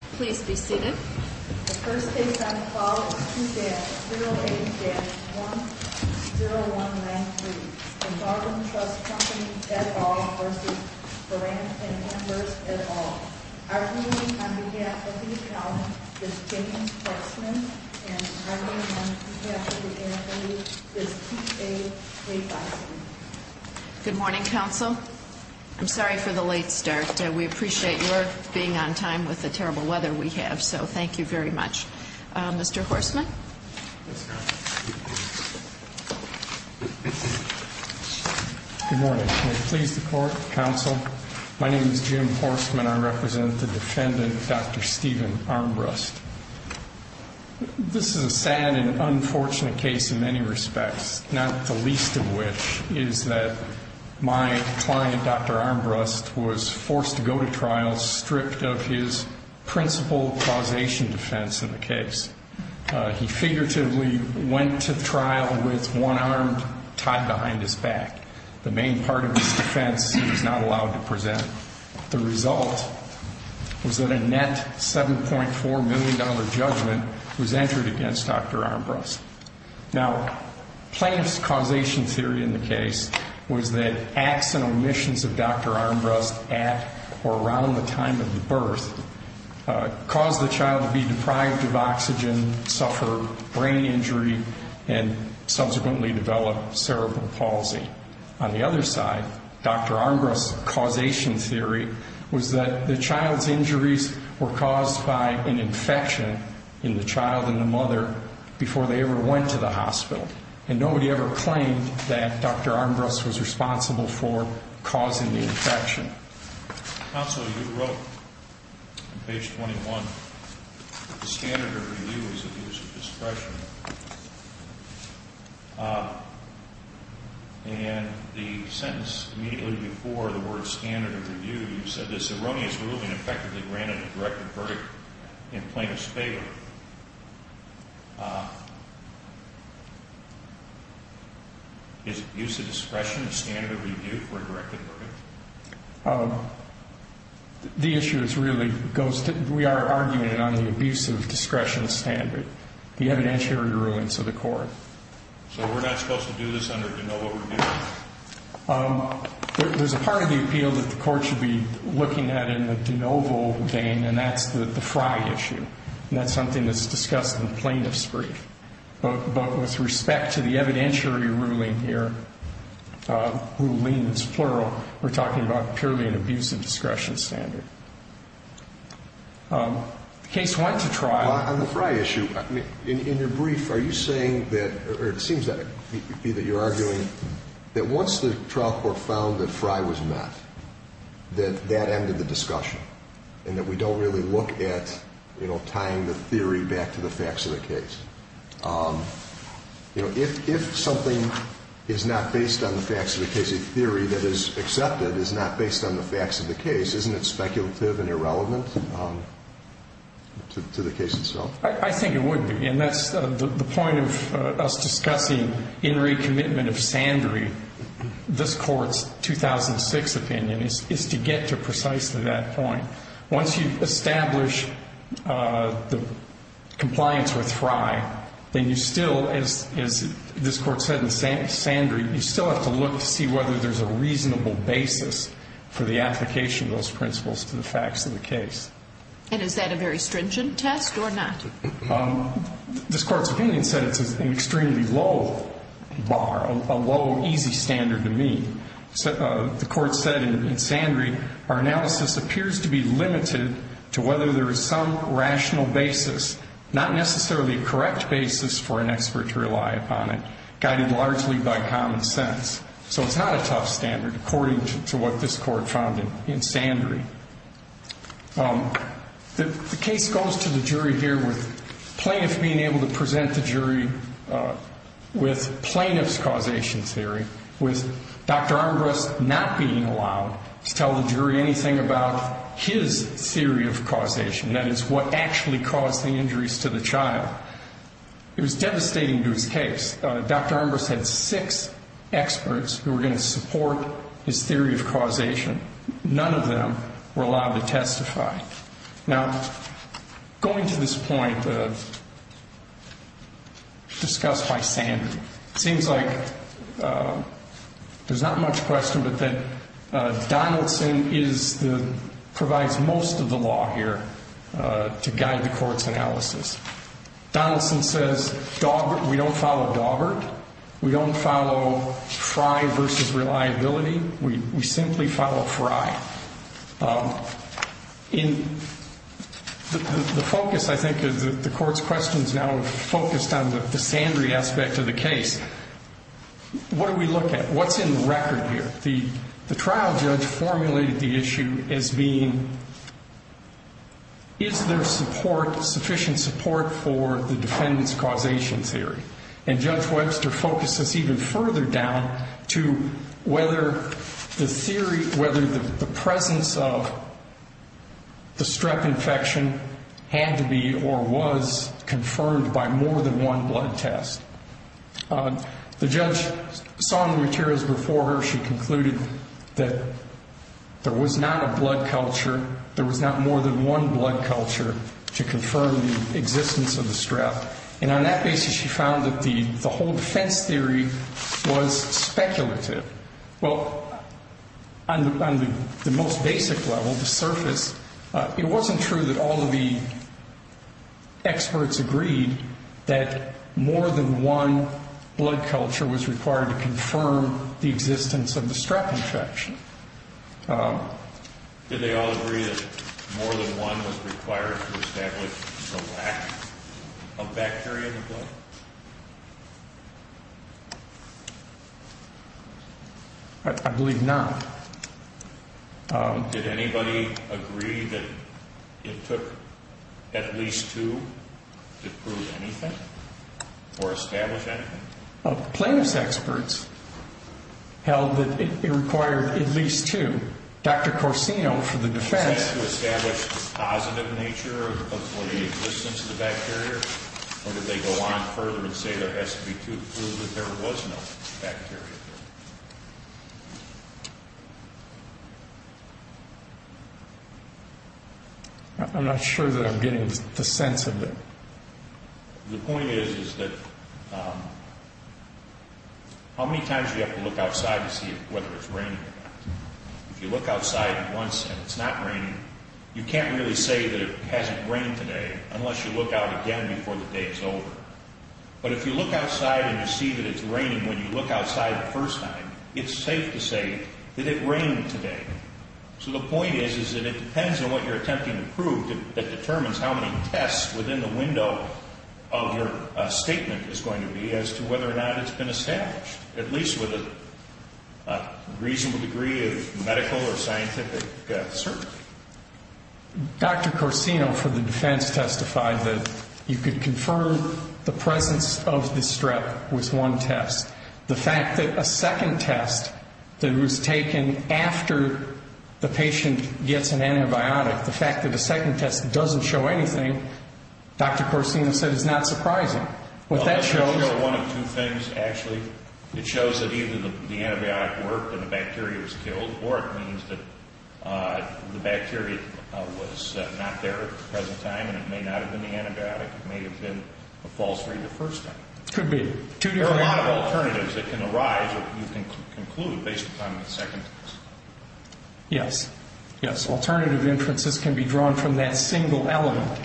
The first case on file is 2-080-10193, the Northern Trust company et al. v. Burandt & Armbrust et al. Arguing on behalf of the accountant is James Portsman, and arguing on behalf of the MFA is T.J. Clay-Thompson. Good morning, counsel. I'm sorry for the late start. We appreciate your being on time with the terrible weather we have, so thank you very much. Mr. Horsman? Yes, ma'am. Good morning. May it please the court, counsel, my name is Jim Horsman. I represent the defendant, Dr. Stephen Armbrust. This is a sad and unfortunate case in many respects, not the least of which is that my client, Dr. Armbrust, was forced to go to trial stripped of his principal causation defense in the case. He figuratively went to trial with one arm tied behind his back. The main part of his defense he was not allowed to present. The result was that a net $7.4 million judgment was entered against Dr. Armbrust. Now, plaintiff's causation theory in the case was that acts and omissions of Dr. Armbrust at or around the time of the birth caused the child to be deprived of oxygen, suffer brain injury, and subsequently develop cerebral palsy. On the other side, Dr. Armbrust's causation theory was that the child's injuries were caused by an infection in the child and the mother before they ever went to the hospital. And nobody ever claimed that Dr. Armbrust was responsible for causing the infection. Counsel, you wrote on page 21 that the standard of review is abuse of discretion. And the sentence immediately before the word standard of review, you said this erroneous ruling effectively granted a directed verdict in plaintiff's favor. Is abuse of discretion a standard of review for a directed verdict? The issue is really, we are arguing it on the abuse of discretion standard, the evidentiary rulings of the court. So we're not supposed to do this under de novo review? There's a part of the appeal that the court should be looking at in the de novo vein, and that's the Frye issue. And that's something that's discussed in plaintiff's brief. But with respect to the evidentiary ruling here, ruling is plural, we're talking about purely an abuse of discretion standard. The case went to trial. On the Frye issue, in your brief, are you saying that, or it seems that you're arguing that once the trial court found that Frye was met, that that ended the discussion, and that we don't really look at tying the theory back to the facts of the case? If something is not based on the facts of the case, a theory that is accepted is not based on the facts of the case, isn't it speculative and irrelevant to the case itself? I think it would be. And that's the point of us discussing in recommitment of Sandry. This court's 2006 opinion is to get to precisely that point. Once you establish the compliance with Frye, then you still, as this court said in Sandry, you still have to look to see whether there's a reasonable basis for the application of those principles to the facts of the case. And is that a very stringent test or not? This court's opinion said it's an extremely low bar, a low, easy standard to meet. The court said in Sandry, our analysis appears to be limited to whether there is some rational basis, not necessarily a correct basis for an expert to rely upon it, guided largely by common sense. So it's not a tough standard, according to what this court found in Sandry. The case goes to the jury here with plaintiff being able to present the jury with plaintiff's causation theory, with Dr. Armbrust not being allowed to tell the jury anything about his theory of causation, that is, what actually caused the injuries to the child. It was devastating to his case. Dr. Armbrust had six experts who were going to support his theory of causation. None of them were allowed to testify. Now, going to this point discussed by Sandry, it seems like there's not much question but that Donaldson provides most of the law here to guide the court's analysis. Donaldson says we don't follow Daubert. We don't follow Fry versus reliability. We simply follow Fry. In the focus, I think, of the court's questions now are focused on the Sandry aspect of the case. What do we look at? What's in the record here? The trial judge formulated the issue as being, is there support, sufficient support for the defendant's causation theory? And Judge Webster focused this even further down to whether the theory, whether the presence of the strep infection had to be or was confirmed by more than one blood test. The judge saw the materials before her. She concluded that there was not a blood culture, there was not more than one blood culture to confirm the existence of the strep. And on that basis, she found that the whole defense theory was speculative. Well, on the most basic level, the surface, it wasn't true that all of the experts agreed that more than one blood culture was required to confirm the existence of the strep infection. Did they all agree that more than one was required to establish the lack of bacteria in the blood? I believe not. Did anybody agree that it took at least two to prove anything or establish anything? Plaintiff's experts held that it required at least two. Dr. Corsino for the defense... Was that to establish the positive nature of the existence of the bacteria? Or did they go on further and say there has to be two to prove that there was no bacteria? I'm not sure that I'm getting the sense of it. The point is that how many times do you have to look outside to see whether it's raining or not? If you look outside once and it's not raining, you can't really say that it hasn't rained today unless you look out again before the day is over. But if you look outside and you see that it's raining when you look outside the first time, it's safe to say that it rained today. So the point is that it depends on what you're attempting to prove that determines how many tests within the window of your statement is going to be as to whether or not it's been established, at least with a reasonable degree of medical or scientific certainty. Dr. Corsino for the defense testified that you could confirm the presence of the strep with one test. The fact that a second test that was taken after the patient gets an antibiotic, the fact that a second test doesn't show anything, Dr. Corsino said, is not surprising. Well, that shows you one of two things, actually. It shows that either the antibiotic worked and the bacteria was killed, or it means that the bacteria was not there at the present time and it may not have been the antibiotic. It may have been a false read the first time. Could be. There are a lot of alternatives that can arise that you can conclude based upon the second test. Yes. Yes, alternative inferences can be drawn from that single element.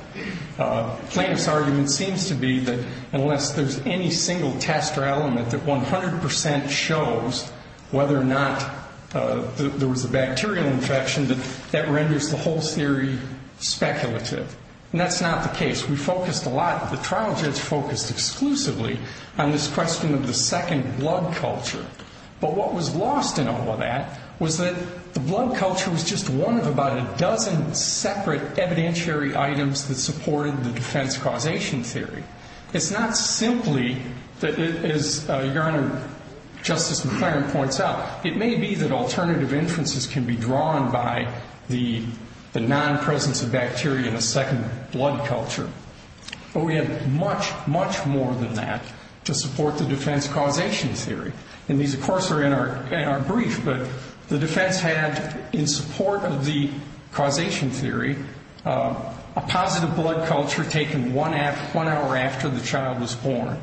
Plaintiff's argument seems to be that unless there's any single test or element that 100% shows whether or not there was a bacterial infection, that that renders the whole theory speculative. And that's not the case. We focused a lot, the trial judge focused exclusively on this question of the second blood culture. But what was lost in all of that was that the blood culture was just one of about a dozen separate evidentiary items that supported the defense causation theory. It's not simply, as Your Honor, Justice McClaren points out, it may be that alternative inferences can be drawn by the non-presence of bacteria in the second blood culture. But we have much, much more than that to support the defense causation theory. And these, of course, are in our brief, but the defense had, in support of the causation theory, a positive blood culture taken one hour after the child was born.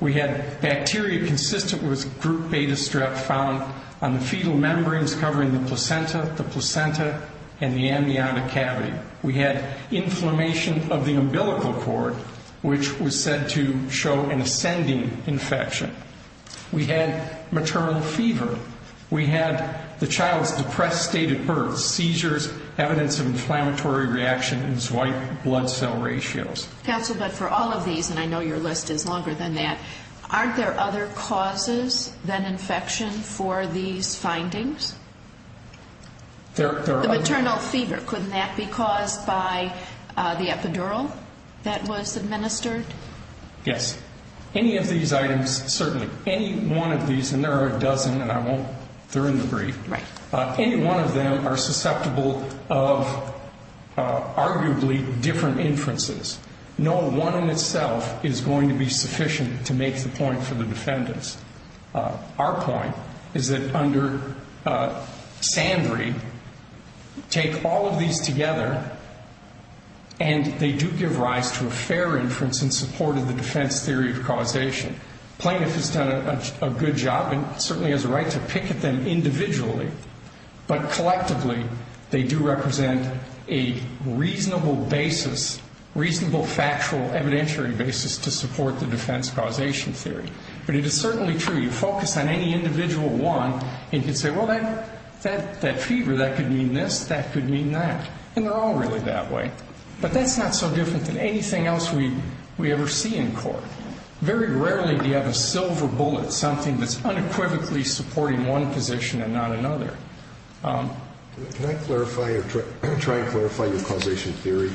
We had bacteria consistent with group beta strep found on the fetal membranes covering the placenta, the placenta, and the amniotic cavity. We had inflammation of the umbilical cord, which was said to show an ascending infection. We had maternal fever. We had the child's depressed state at birth, seizures, evidence of inflammatory reaction, and swipe blood cell ratios. Counsel, but for all of these, and I know your list is longer than that, aren't there other causes than infection for these findings? The maternal fever, couldn't that be caused by the epidural that was administered? Yes. Any of these items, certainly, any one of these, and there are a dozen, and I won't throw in the brief, any one of them are susceptible of arguably different inferences. No one in itself is going to be sufficient to make the point for the defendants. Our point is that under Sandry, take all of these together, and they do give rise to a fair inference in support of the defense theory of causation. Plaintiff has done a good job and certainly has a right to pick at them individually, but collectively, they do represent a reasonable basis, reasonable factual evidentiary basis to support the defense causation theory. But it is certainly true. You focus on any individual one, and you can say, well, that fever, that could mean this, that could mean that, and they're all really that way. But that's not so different than anything else we ever see in court. Very rarely do you have a silver bullet, something that's unequivocally supporting one position and not another. Can I clarify or try to clarify your causation theory?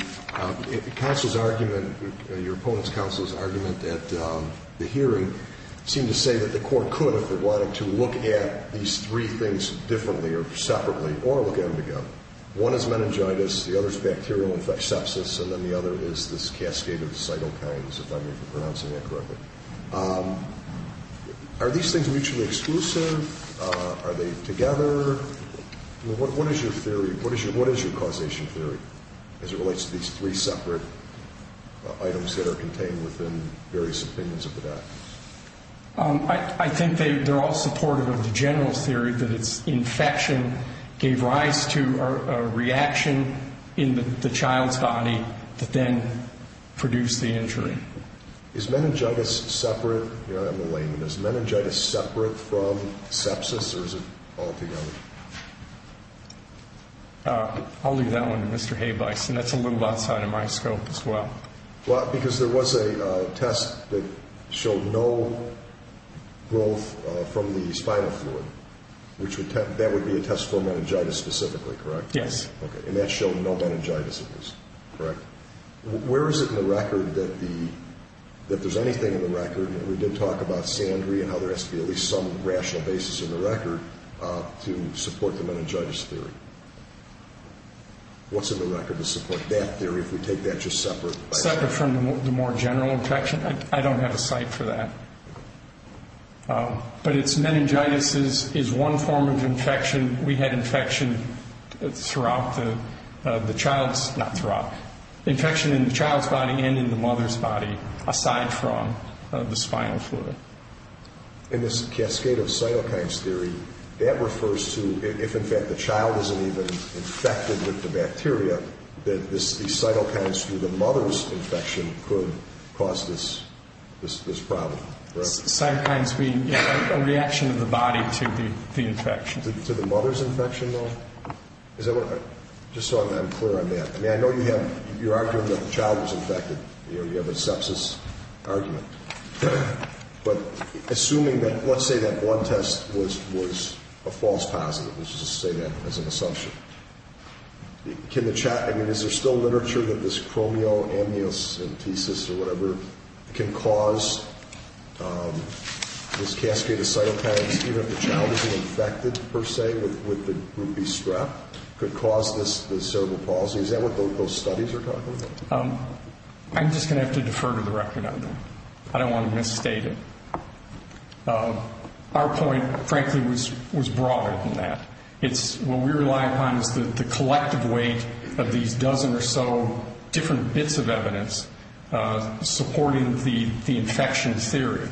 Counsel's argument, your opponent's counsel's argument at the hearing seemed to say that the court could, if it wanted to, look at these three things differently or separately or look at them together. One is meningitis, the other is bacterial sepsis, and then the other is this cascade of cytokines, if I'm pronouncing that correctly. Are these things mutually exclusive? Are they together? What is your theory? What is your causation theory as it relates to these three separate items that are contained within various opinions of the doc? I think they're all supportive of the general theory that it's infection gave rise to a reaction in the child's body that then produced the injury. Is meningitis separate from sepsis or is it altogether? I'll leave that one to Mr. Habeis, and that's a little outside of my scope as well. Well, because there was a test that showed no growth from the spinal fluid. That would be a test for meningitis specifically, correct? Yes. Okay, and that showed no meningitis in this, correct? Where is it in the record that there's anything in the record? We did talk about sandry and how there has to be at least some rational basis in the record to support the meningitis theory. What's in the record to support that theory if we take that just separate? Separate from the more general infection? I don't have a site for that. But it's meningitis is one form of infection. We had infection throughout the child's, not throughout, infection in the child's body and in the mother's body aside from the spinal fluid. In this cascade of cytokines theory, that refers to if in fact the child isn't even infected with the bacteria, that these cytokines through the mother's infection could cause this problem, correct? Cytokines being a reaction of the body to the infection. To the mother's infection though? Just so I'm clear on that. I mean, I know you have your argument that the child was infected. You have a sepsis argument. But assuming that, let's say that one test was a false positive. Let's just say that as an assumption. I mean, is there still literature that this chromoamniocentesis or whatever can cause this cascade of cytokines, even if the child isn't infected per se with the group B strep, could cause this cerebral palsy? Is that what those studies are talking about? I'm just going to have to defer to the record on that. I don't want to misstate it. Our point, frankly, was broader than that. What we rely upon is the collective weight of these dozen or so different bits of evidence supporting the infection theory.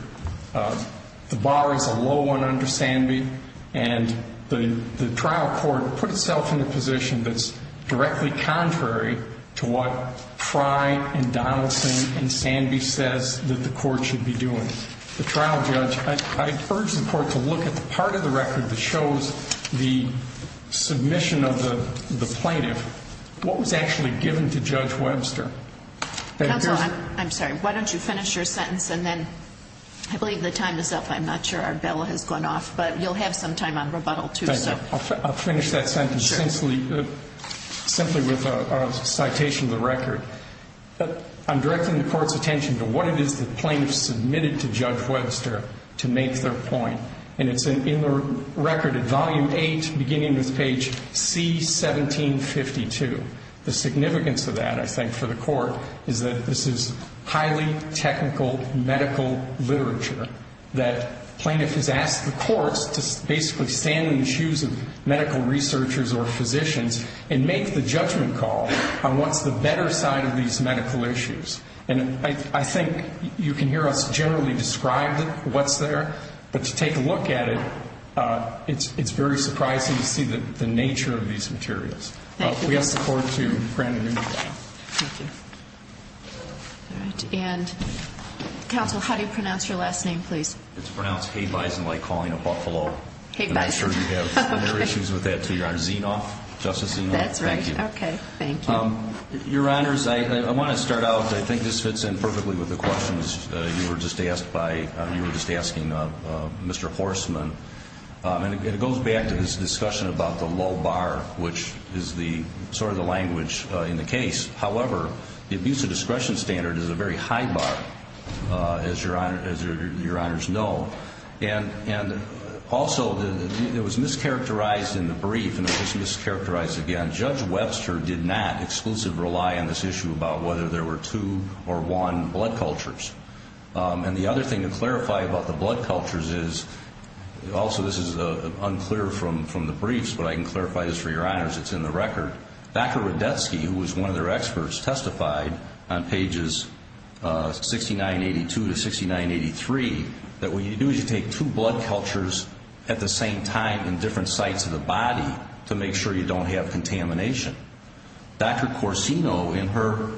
The bar is a low one under Sandby. And the trial court put itself in a position that's directly contrary to what Fry and Donaldson and Sandby says that the court should be doing. The trial judge, I urge the court to look at the part of the record that shows the submission of the plaintiff. What was actually given to Judge Webster? Counsel, I'm sorry. Why don't you finish your sentence and then I believe the time is up. I'm not sure our bell has gone off. But you'll have some time on rebuttal, too. I'll finish that sentence simply with a citation of the record. I'm directing the court's attention to what it is the plaintiff submitted to Judge Webster to make their point. And it's in the record at volume 8 beginning with page C1752. The significance of that, I think, for the court is that this is highly technical medical literature that plaintiff has asked the courts to basically stand in the shoes of medical researchers or physicians and make the judgment call on what's the better side of these medical issues. And I think you can hear us generally describe what's there. But to take a look at it, it's very surprising to see the nature of these materials. Thank you. We ask the court to grant adieu. Thank you. All right. And counsel, how do you pronounce your last name, please? It's pronounced Hay-Bison like calling a buffalo. Hay-Bison. And I'm sure you have other issues with that, too, Your Honor. Zinoff? Justice Zinoff? That's right. Okay. Thank you. Your Honors, I want to start out. I think this fits in perfectly with the questions you were just asking, Mr. Horstman. And it goes back to this discussion about the low bar, which is sort of the language in the case. However, the abuse of discretion standard is a very high bar, as Your Honors know. And also, it was mischaracterized in the brief, and it was mischaracterized again. Judge Webster did not exclusively rely on this issue about whether there were two or one blood cultures. And the other thing to clarify about the blood cultures is, also this is unclear from the briefs, but I can clarify this for Your Honors. It's in the record. Dr. Rodetsky, who was one of their experts, testified on pages 6982 to 6983 that what you do is you take two blood cultures at the same time in different sites of the body to make sure you don't have contamination. Dr. Corsino, in her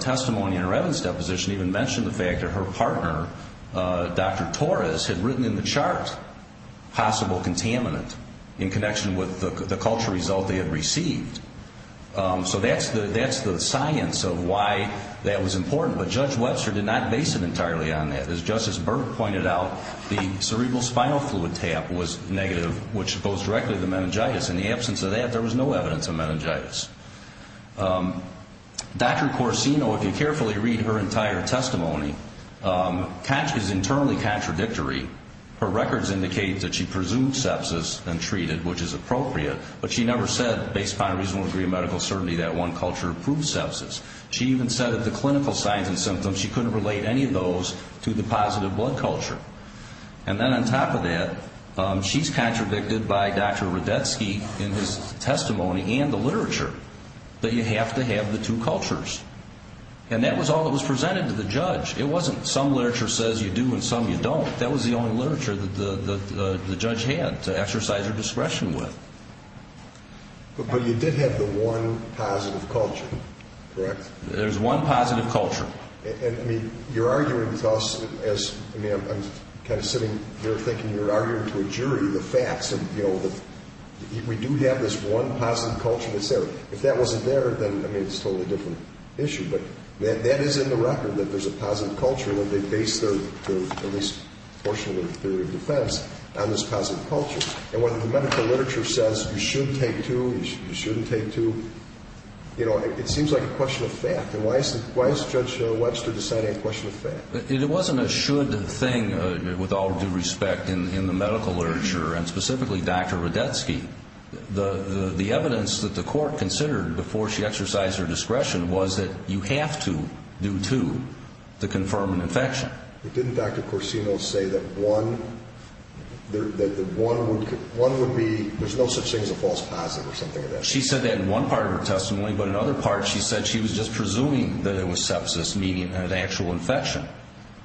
testimony in her evidence deposition, even mentioned the fact that her partner, Dr. Torres, had written in the chart possible contaminant in connection with the culture result they had received. So that's the science of why that was important. But Judge Webster did not base it entirely on that. As Justice Berg pointed out, the cerebral spinal fluid tap was negative, which goes directly to the meningitis. In the absence of that, there was no evidence of meningitis. Dr. Corsino, if you carefully read her entire testimony, is internally contradictory. Her records indicate that she presumed sepsis and treated, which is appropriate, but she never said, based upon a reasonable degree of medical certainty, that one culture proved sepsis. She even said that the clinical signs and symptoms, she couldn't relate any of those to the positive blood culture. And then on top of that, she's contradicted by Dr. Rudetsky in his testimony and the literature, that you have to have the two cultures. And that was all that was presented to the judge. It wasn't some literature says you do and some you don't. That was the only literature that the judge had to exercise her discretion with. But you did have the one positive culture, correct? There's one positive culture. You're arguing with us. I'm kind of sitting here thinking you're arguing to a jury the facts. We do have this one positive culture that's there. If that wasn't there, then it's a totally different issue. But that is in the record, that there's a positive culture, and that they base their least portion of their theory of defense on this positive culture. And whether the medical literature says you should take two, you shouldn't take two, it seems like a question of fact. And why is Judge Webster deciding it's a question of fact? It wasn't a should thing, with all due respect, in the medical literature, and specifically Dr. Rudetsky. The evidence that the court considered before she exercised her discretion was that you have to do two to confirm an infection. But didn't Dr. Corsino say that one would be, there's no such thing as a false positive or something like that? She said that in one part of her testimony, but in other parts she said she was just presuming that it was sepsis, meaning an actual infection.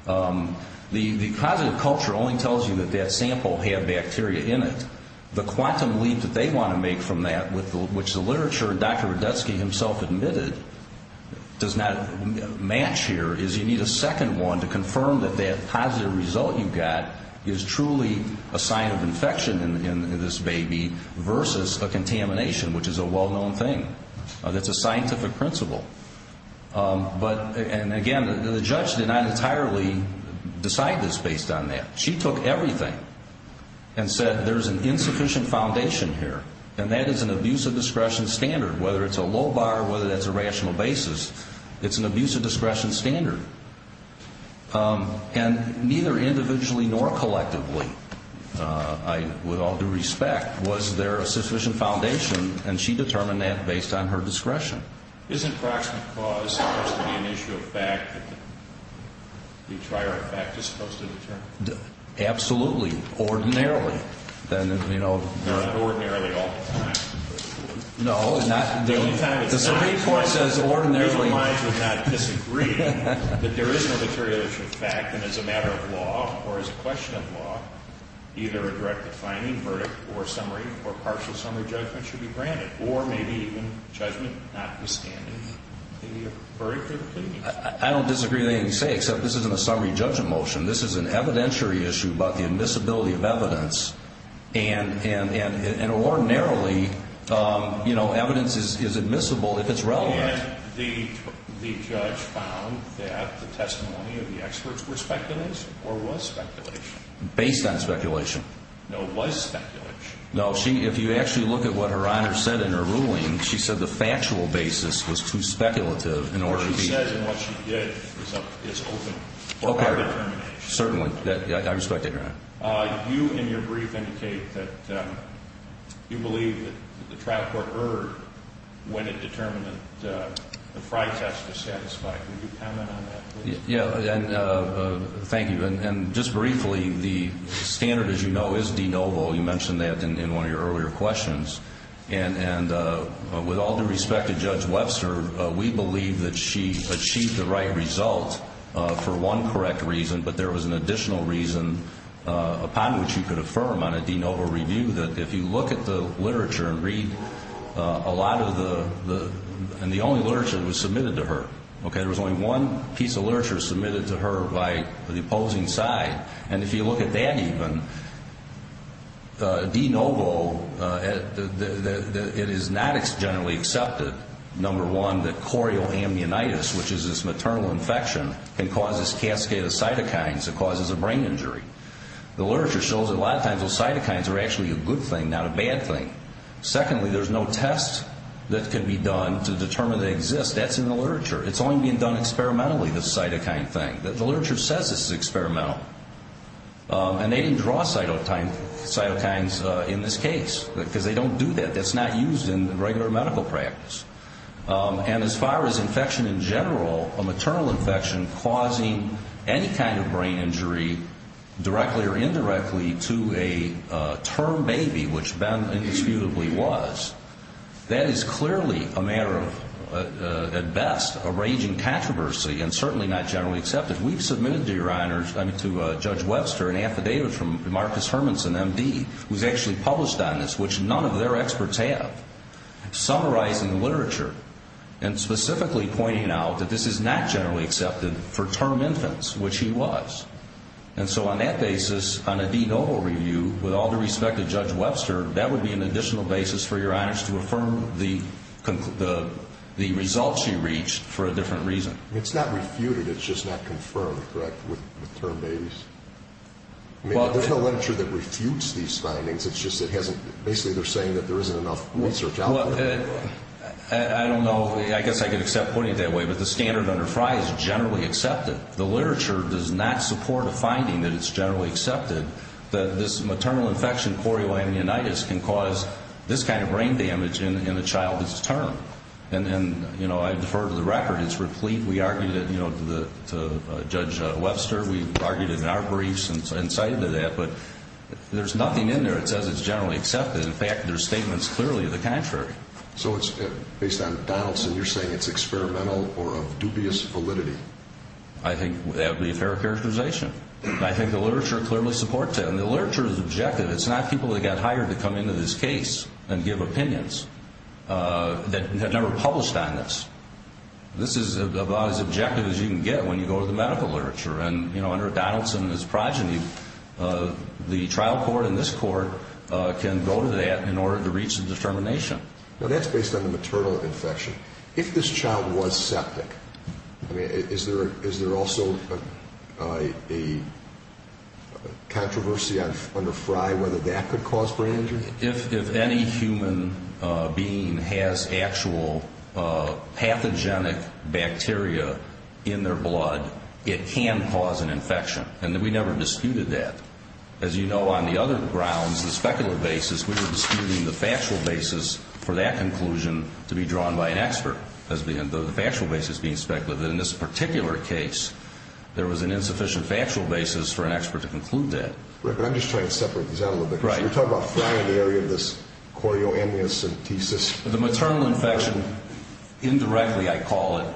The positive culture only tells you that that sample had bacteria in it. The quantum leap that they want to make from that, which the literature Dr. Rudetsky himself admitted does not match here, is you need a second one to confirm that that positive result you got is truly a sign of infection in this baby versus a contamination, which is a well-known thing. That's a scientific principle. But, and again, the judge did not entirely decide this based on that. She took everything and said there's an insufficient foundation here, and that is an abuse of discretion standard, whether it's a low bar, whether that's a rational basis, it's an abuse of discretion standard. And neither individually nor collectively, with all due respect, was there a sufficient foundation, and she determined that based on her discretion. Isn't proximate cause supposed to be an issue of fact? The trier of fact is supposed to determine it? Absolutely. Ordinarily. Not ordinarily all the time. No, the Supreme Court says ordinarily. I would not disagree that there is no material truth of fact, and as a matter of law or as a question of law, either a direct defining verdict or summary or partial summary judgment should be granted, or maybe even judgment notwithstanding the verdict or the opinion. I don't disagree with anything you say, except this isn't a summary judgment motion. This is an evidentiary issue about the admissibility of evidence, and ordinarily, you know, evidence is admissible if it's relevant. And the judge found that the testimony of the experts were speculative, or was speculation? Based on speculation. No, was speculation. No, if you actually look at what Her Honor said in her ruling, she said the factual basis was too speculative in order to be. What she said and what she did is open for our determination. Certainly. I respect that, Your Honor. You, in your brief, indicate that you believe that the trial court erred when it determined that the Frey test was satisfied. Can you comment on that, please? Yeah, and thank you. And just briefly, the standard, as you know, is de novo. You mentioned that in one of your earlier questions. And with all due respect to Judge Webster, we believe that she achieved the right result for one correct reason, but there was an additional reason upon which you could affirm on a de novo review that if you look at the literature and read a lot of the, and the only literature that was submitted to her, okay, there was only one piece of literature submitted to her by the opposing side. And if you look at that even, de novo, it is not generally accepted, number one, that chorioambionitis, which is this maternal infection, can cause this cascade of cytokines that causes a brain injury. The literature shows that a lot of times those cytokines are actually a good thing, not a bad thing. Secondly, there's no test that can be done to determine they exist. That's in the literature. It's only being done experimentally, this cytokine thing. The literature says this is experimental. And they didn't draw cytokines in this case because they don't do that. That's not used in regular medical practice. And as far as infection in general, a maternal infection causing any kind of brain injury directly or indirectly to a term baby, which Ben indisputably was, that is clearly a matter of, at best, a raging controversy and certainly not generally accepted. We've submitted to your honors, I mean to Judge Webster, an affidavit from Marcus Hermanson, M.D., who's actually published on this, which none of their experts have, summarizing the literature and specifically pointing out that this is not generally accepted for term infants, which he was. And so on that basis, on a denotal review, with all due respect to Judge Webster, that would be an additional basis for your honors to affirm the results you reached for a different reason. It's not refuted. It's just not confirmed, correct, with term babies? There's no literature that refutes these findings. It's just basically they're saying that there isn't enough research out there. I don't know. I guess I could accept putting it that way. But the standard under Frye is generally accepted. The literature does not support a finding that it's generally accepted that this maternal infection, chorioamnionitis, can cause this kind of brain damage in a child's term. And I defer to the record. It's replete. We argued it, you know, to Judge Webster. We argued it in our briefs and cited that. But there's nothing in there that says it's generally accepted. In fact, there's statements clearly of the contrary. So it's based on Donaldson. You're saying it's experimental or of dubious validity? I think that would be a fair characterization. I think the literature clearly supports that. And the literature is objective. It's not people that got hired to come into this case and give opinions that never published on this. This is about as objective as you can get when you go to the medical literature. And, you know, under Donaldson and his progeny, the trial court and this court can go to that in order to reach a determination. That's based on the maternal infection. If this child was septic, is there also a controversy under Frye whether that could cause brain injury? If any human being has actual pathogenic bacteria in their blood, it can cause an infection. And we never disputed that. As you know, on the other grounds, the speculative basis, we were disputing the factual basis for that conclusion to be drawn by an expert. The factual basis being speculative. In this particular case, there was an insufficient factual basis for an expert to conclude that. Right. But I'm just trying to separate these out a little bit. Right. Because you're talking about Frye in the area of this chorioamniocentesis. The maternal infection, indirectly I call it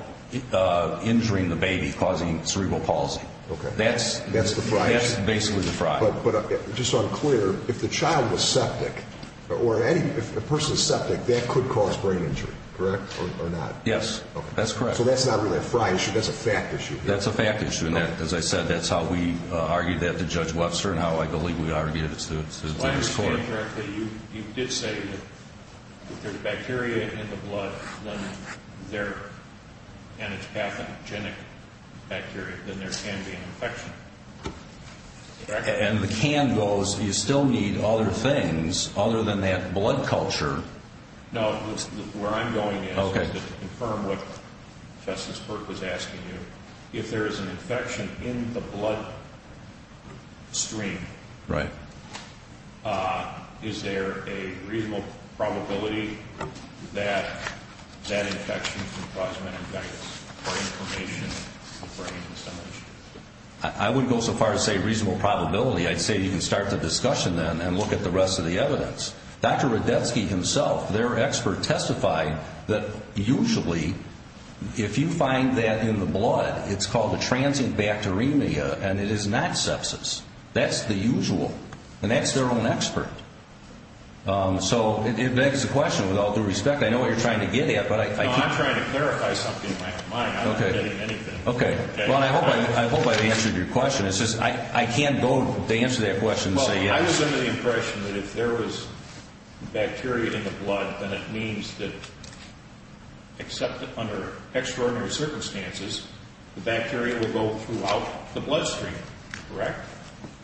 injuring the baby causing cerebral palsy. Okay. That's the Frye issue. That's basically the Frye. But just so I'm clear, if the child was septic or any person is septic, that could cause brain injury, correct, or not? Yes. Okay. That's correct. So that's not really a Frye issue. That's a fact issue. That's a fact issue. As I said, that's how we argued that to Judge Webster and how I believe we argued it to this court. If I understand correctly, you did say that if there's bacteria in the blood and it's pathogenic bacteria, then there can be an infection. And the can goes, you still need other things other than that blood culture. No, where I'm going is to confirm what Justice Burke was asking you. If there is an infection in the bloodstream, is there a reasonable probability that that infection can cause meningitis or inflammation of the brain? I wouldn't go so far as to say reasonable probability. I'd say you can start the discussion then and look at the rest of the evidence. Dr. Radetzky himself, their expert, testified that usually if you find that in the blood, it's called a transient bacteremia and it is not sepsis. That's the usual. And that's their own expert. So it begs the question, with all due respect, I know what you're trying to get at. No, I'm trying to clarify something, Mike. I'm not getting anything. Okay. Well, I hope I've answered your question. It's just I can't go to answer that question and say yes. I was under the impression that if there was bacteria in the blood, then it means that, except under extraordinary circumstances, the bacteria will go throughout the bloodstream, correct?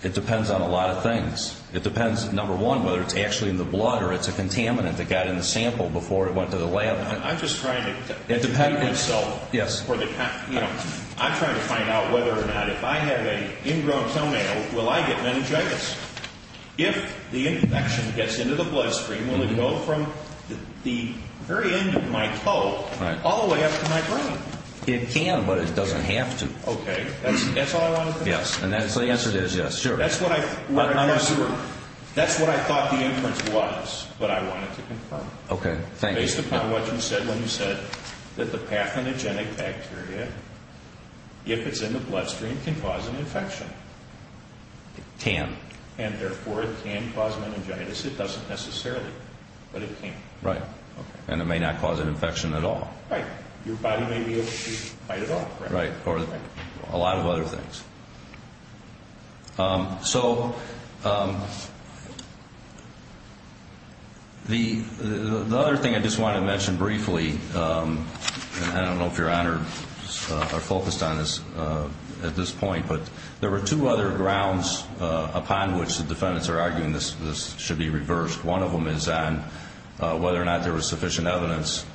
It depends on a lot of things. It depends, number one, whether it's actually in the blood or it's a contaminant that got in the sample before it went to the lab. I'm just trying to... It depends. I'm trying to find out whether or not if I have an ingrown toenail, will I get meningitis? If the infection gets into the bloodstream, will it go from the very end of my toe all the way up to my brain? It can, but it doesn't have to. Okay. That's all I wanted to know. Yes. So the answer is yes, sure. That's what I thought the inference was, but I wanted to confirm. Okay, thank you. Based upon what you said when you said that the pathogenic bacteria, if it's in the bloodstream, can cause an infection. It can. And therefore, it can cause meningitis. It doesn't necessarily, but it can. Right. And it may not cause an infection at all. Right. Your body may be able to fight it off. Right, or a lot of other things. So the other thing I just want to mention briefly, and I don't know if your honors are focused on this at this point, but there were two other grounds upon which the defendants are arguing this should be reversed. One of them is on whether or not there was sufficient evidence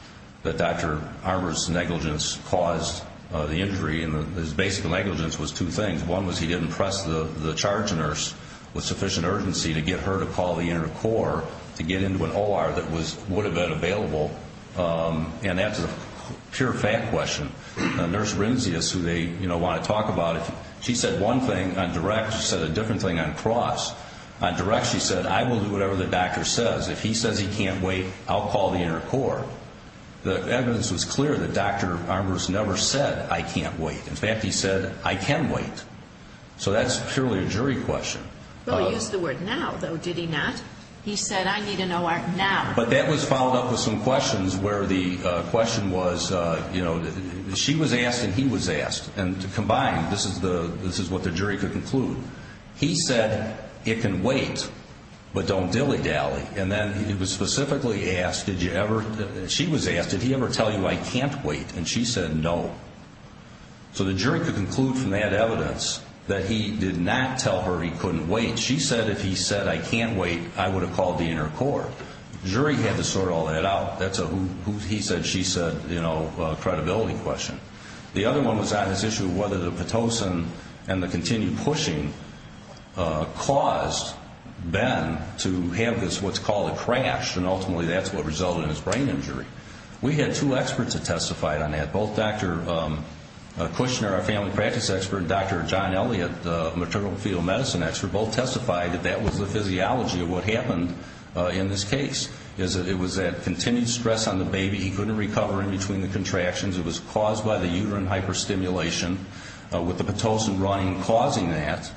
that Dr. Armour's negligence caused the injury. And his basic negligence was two things. One was he didn't press the charge nurse with sufficient urgency to get her to call the inter-corps to get into an OR that would have been available. And that's a pure fact question. Nurse Renzius, who they want to talk about it, she said one thing on direct. She said a different thing on cross. On direct, she said, I will do whatever the doctor says. If he says he can't wait, I'll call the inter-corps. The evidence was clear that Dr. Armour's never said, I can't wait. In fact, he said, I can wait. So that's purely a jury question. Well, he used the word now, though, did he not? He said, I need an OR now. But that was followed up with some questions where the question was, you know, she was asked and he was asked. And to combine, this is what the jury could conclude. He said, it can wait, but don't dilly-dally. And then he was specifically asked, did you ever, she was asked, did he ever tell you I can't wait? And she said, no. So the jury could conclude from that evidence that he did not tell her he couldn't wait. She said, if he said, I can't wait, I would have called the inter-corps. The jury had to sort all that out. That's a who he said, she said, you know, credibility question. The other one was on this issue of whether the Pitocin and the continued pushing caused Ben to have this, what's called a crash, and ultimately that's what resulted in his brain injury. We had two experts that testified on that. Both Dr. Kushner, our family practice expert, and Dr. John Elliott, the maternal fetal medicine expert, both testified that that was the physiology of what happened in this case. It was that continued stress on the baby. He couldn't recover in between the contractions. It was caused by the uterine hyperstimulation with the Pitocin running and causing that.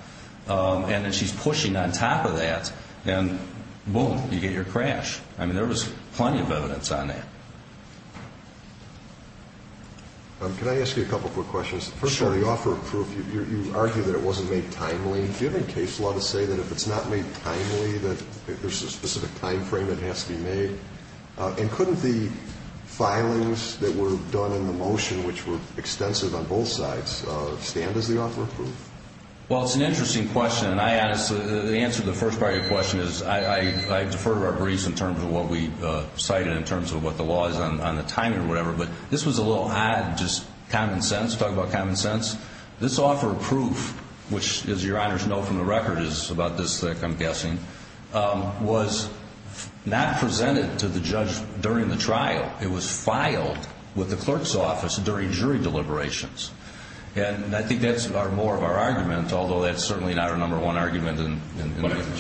And then she's pushing on top of that, and boom, you get your crash. I mean, there was plenty of evidence on that. Can I ask you a couple quick questions? Sure. First of all, you offer proof. You argue that it wasn't made timely. Do you have any case law to say that if it's not made timely, that there's a specific time frame it has to be made? And couldn't the filings that were done in the motion, which were extensive on both sides, stand as the offer of proof? Well, it's an interesting question. And I honestly, the answer to the first part of your question is I defer to our briefs in terms of what we cited in terms of what the law is on the timing or whatever. But this was a little odd, just common sense, talk about common sense. This offer of proof, which, as your honors know from the record, is about this thick, I'm guessing, was not presented to the judge during the trial. It was filed with the clerk's office during jury deliberations. And I think that's more of our argument, although that's certainly not our number one argument in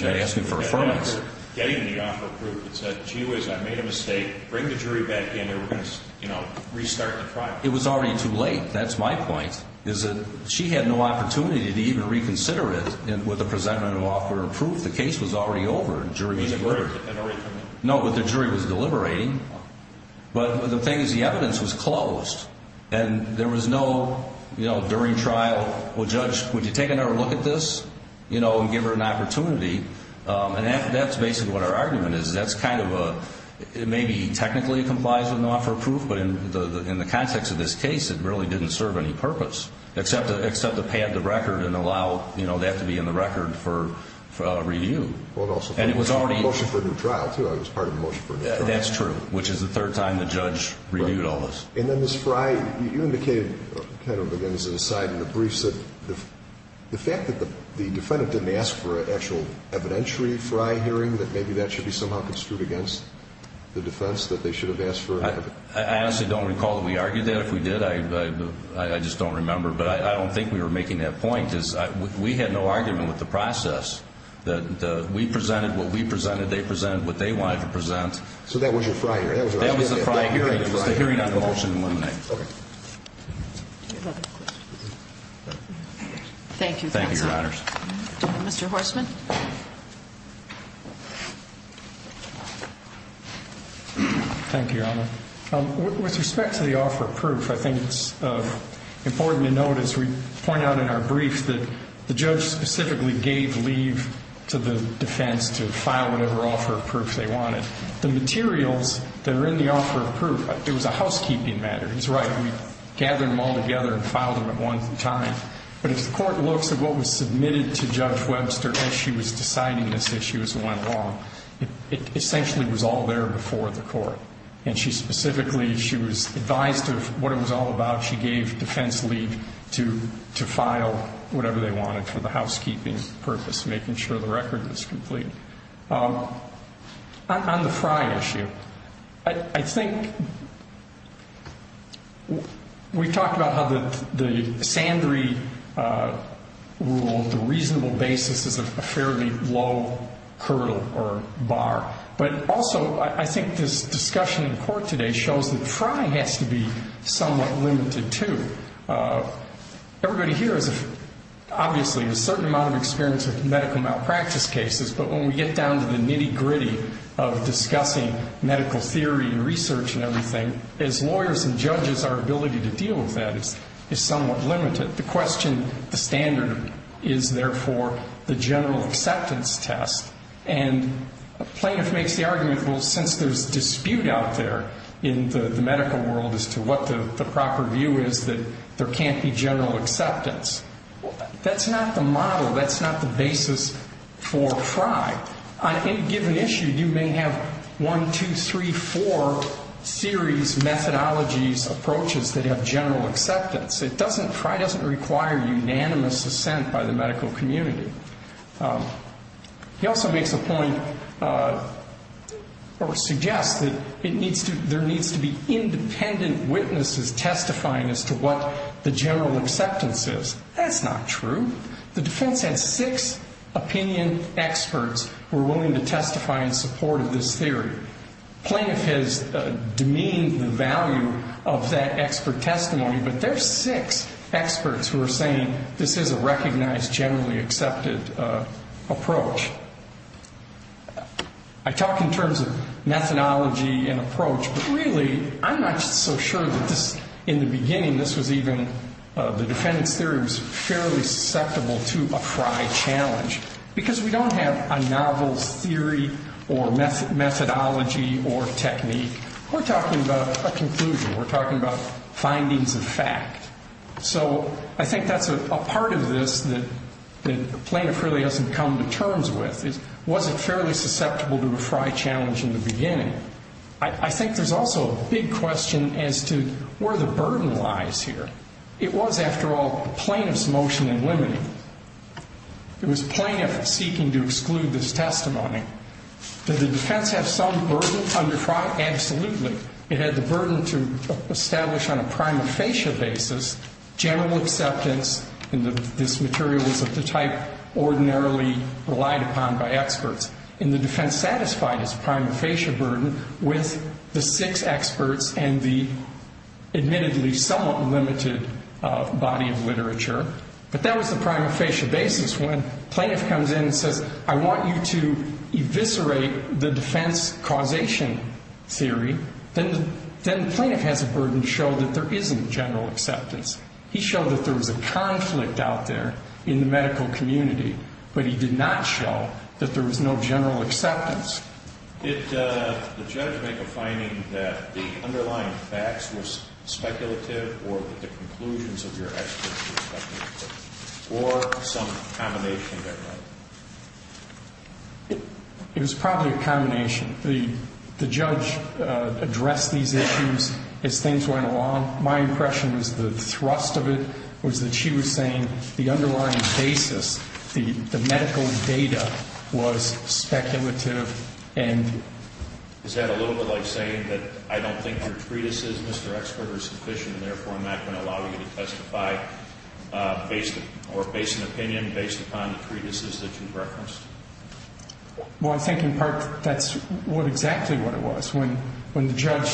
asking for affirmation. Getting the offer of proof, it said, gee whiz, I made a mistake. Bring the jury back in, and we're going to restart the trial. It was already too late. That's my point, is that she had no opportunity to even reconsider it with the presentment of offer of proof. The case was already over. The jury was deliberating. But the thing is the evidence was closed. And there was no during trial, well, Judge, would you take another look at this and give her an opportunity? And that's basically what our argument is. That's kind of a, it may be technically complies with an offer of proof, but in the context of this case, it really didn't serve any purpose except to pad the record and allow that to be in the record for review. And it was already. It was a motion for a new trial, too. It was part of the motion for a new trial. That's true, which is the third time the judge reviewed all this. And then Ms. Frey, you indicated kind of again as an aside in the briefs that the fact that the defendant didn't ask for an actual evidentiary Frey hearing, that maybe that should be somehow construed against the defense, that they should have asked for an evidentiary. I honestly don't recall that we argued that. If we did, I just don't remember. But I don't think we were making that point, because we had no argument with the process. We presented what we presented. They presented what they wanted to present. So that was your Frey hearing. That was the Frey hearing. That was the Frey hearing. It was the hearing on the motion to eliminate. Okay. Thank you, counsel. Thank you, Your Honors. Mr. Horstman. Thank you, Your Honor. With respect to the offer of proof, I think it's important to note, as we point out in our brief, that the judge specifically gave leave to the defense to file whatever offer of proof they wanted. The materials that are in the offer of proof, it was a housekeeping matter. He's right. We gathered them all together and filed them at one time. But if the court looks at what was submitted to Judge Webster as she was deciding this issue as it went along, it essentially was all there before the court. And she specifically, she was advised of what it was all about. She gave defense leave to file whatever they wanted for the housekeeping purpose, making sure the record was complete. On the Frey issue, I think we talked about how the Sandry rule, the reasonable basis is a fairly low hurdle or bar. But also, I think this discussion in court today shows that Frey has to be somewhat limited, too. Everybody here has, obviously, a certain amount of experience with medical malpractice cases. But when we get down to the nitty-gritty of discussing medical theory and research and everything, as lawyers and judges, our ability to deal with that is somewhat limited. The question, the standard is, therefore, the general acceptance test. And a plaintiff makes the argument, well, since there's dispute out there in the medical world as to what the proper view is, that there can't be general acceptance. That's not the model. That's not the basis for Frey. On any given issue, you may have one, two, three, four series methodologies, approaches that have general acceptance. Frey doesn't require unanimous assent by the medical community. He also makes a point or suggests that there needs to be independent witnesses testifying as to what the general acceptance is. That's not true. The defense had six opinion experts who were willing to testify in support of this theory. Plaintiff has demeaned the value of that expert testimony, but there are six experts who are saying this is a recognized, generally accepted approach. I talk in terms of methodology and approach, but really I'm not so sure that this, in the beginning, this was even, the defendant's theory was fairly susceptible to a Frey challenge, because we don't have a novel theory or methodology or technique. We're talking about a conclusion. We're talking about findings of fact. So I think that's a part of this that the plaintiff really hasn't come to terms with. Was it fairly susceptible to a Frey challenge in the beginning? I think there's also a big question as to where the burden lies here. It was, after all, the plaintiff's motion in limiting. It was plaintiff seeking to exclude this testimony. Did the defense have some burden under Frey? Absolutely. It had the burden to establish on a prima facie basis general acceptance, and this material was of the type ordinarily relied upon by experts. And the defense satisfied its prima facie burden with the six experts and the admittedly somewhat limited body of literature. But that was the prima facie basis when plaintiff comes in and says, I want you to eviscerate the defense causation theory. Then the plaintiff has a burden to show that there isn't general acceptance. He showed that there was a conflict out there in the medical community, but he did not show that there was no general acceptance. Did the judge make a finding that the underlying facts were speculative or that the conclusions of your experts were speculative, or some combination thereof? It was probably a combination. The judge addressed these issues as things went along. My impression was the thrust of it was that she was saying the underlying basis, the medical data, was speculative. Is that a little bit like saying that I don't think your treatises, Mr. Expert, are sufficient and, therefore, I'm not going to allow you to testify or base an opinion based upon the treatises that you referenced? Well, I think, in part, that's exactly what it was. When the judge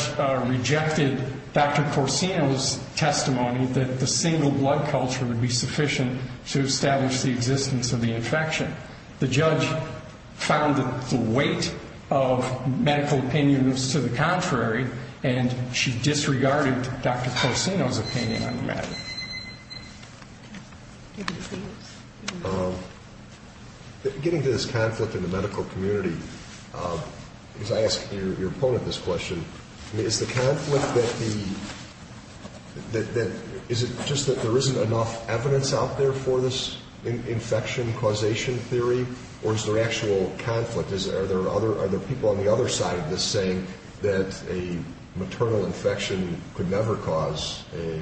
rejected Dr. Corsino's testimony that the single blood culture would be sufficient to establish the existence of the infection, the judge found that the weight of medical opinion was to the contrary, and she disregarded Dr. Corsino's opinion on the matter. Getting to this conflict in the medical community, as I ask your opponent this question, is the conflict that the ñ is it just that there isn't enough evidence out there for this infection causation theory, or is there actual conflict? Are there people on the other side of this saying that a maternal infection could never cause a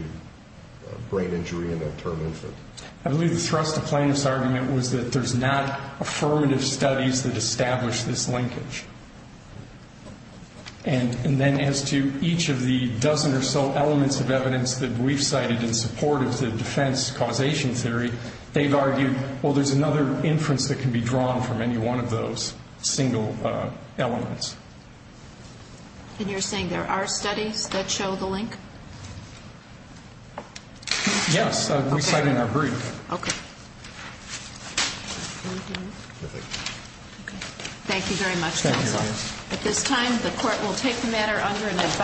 brain injury in a term infant? I believe the thrust of Plano's argument was that there's not affirmative studies that establish this linkage. And then as to each of the dozen or so elements of evidence that we've cited in support of the defense causation theory, they've argued, well, there's another inference that can be drawn from any one of those single elements. And you're saying there are studies that show the link? Yes, we cite in our brief. Okay. Thank you. At this time, the Court will take the matter under an advise.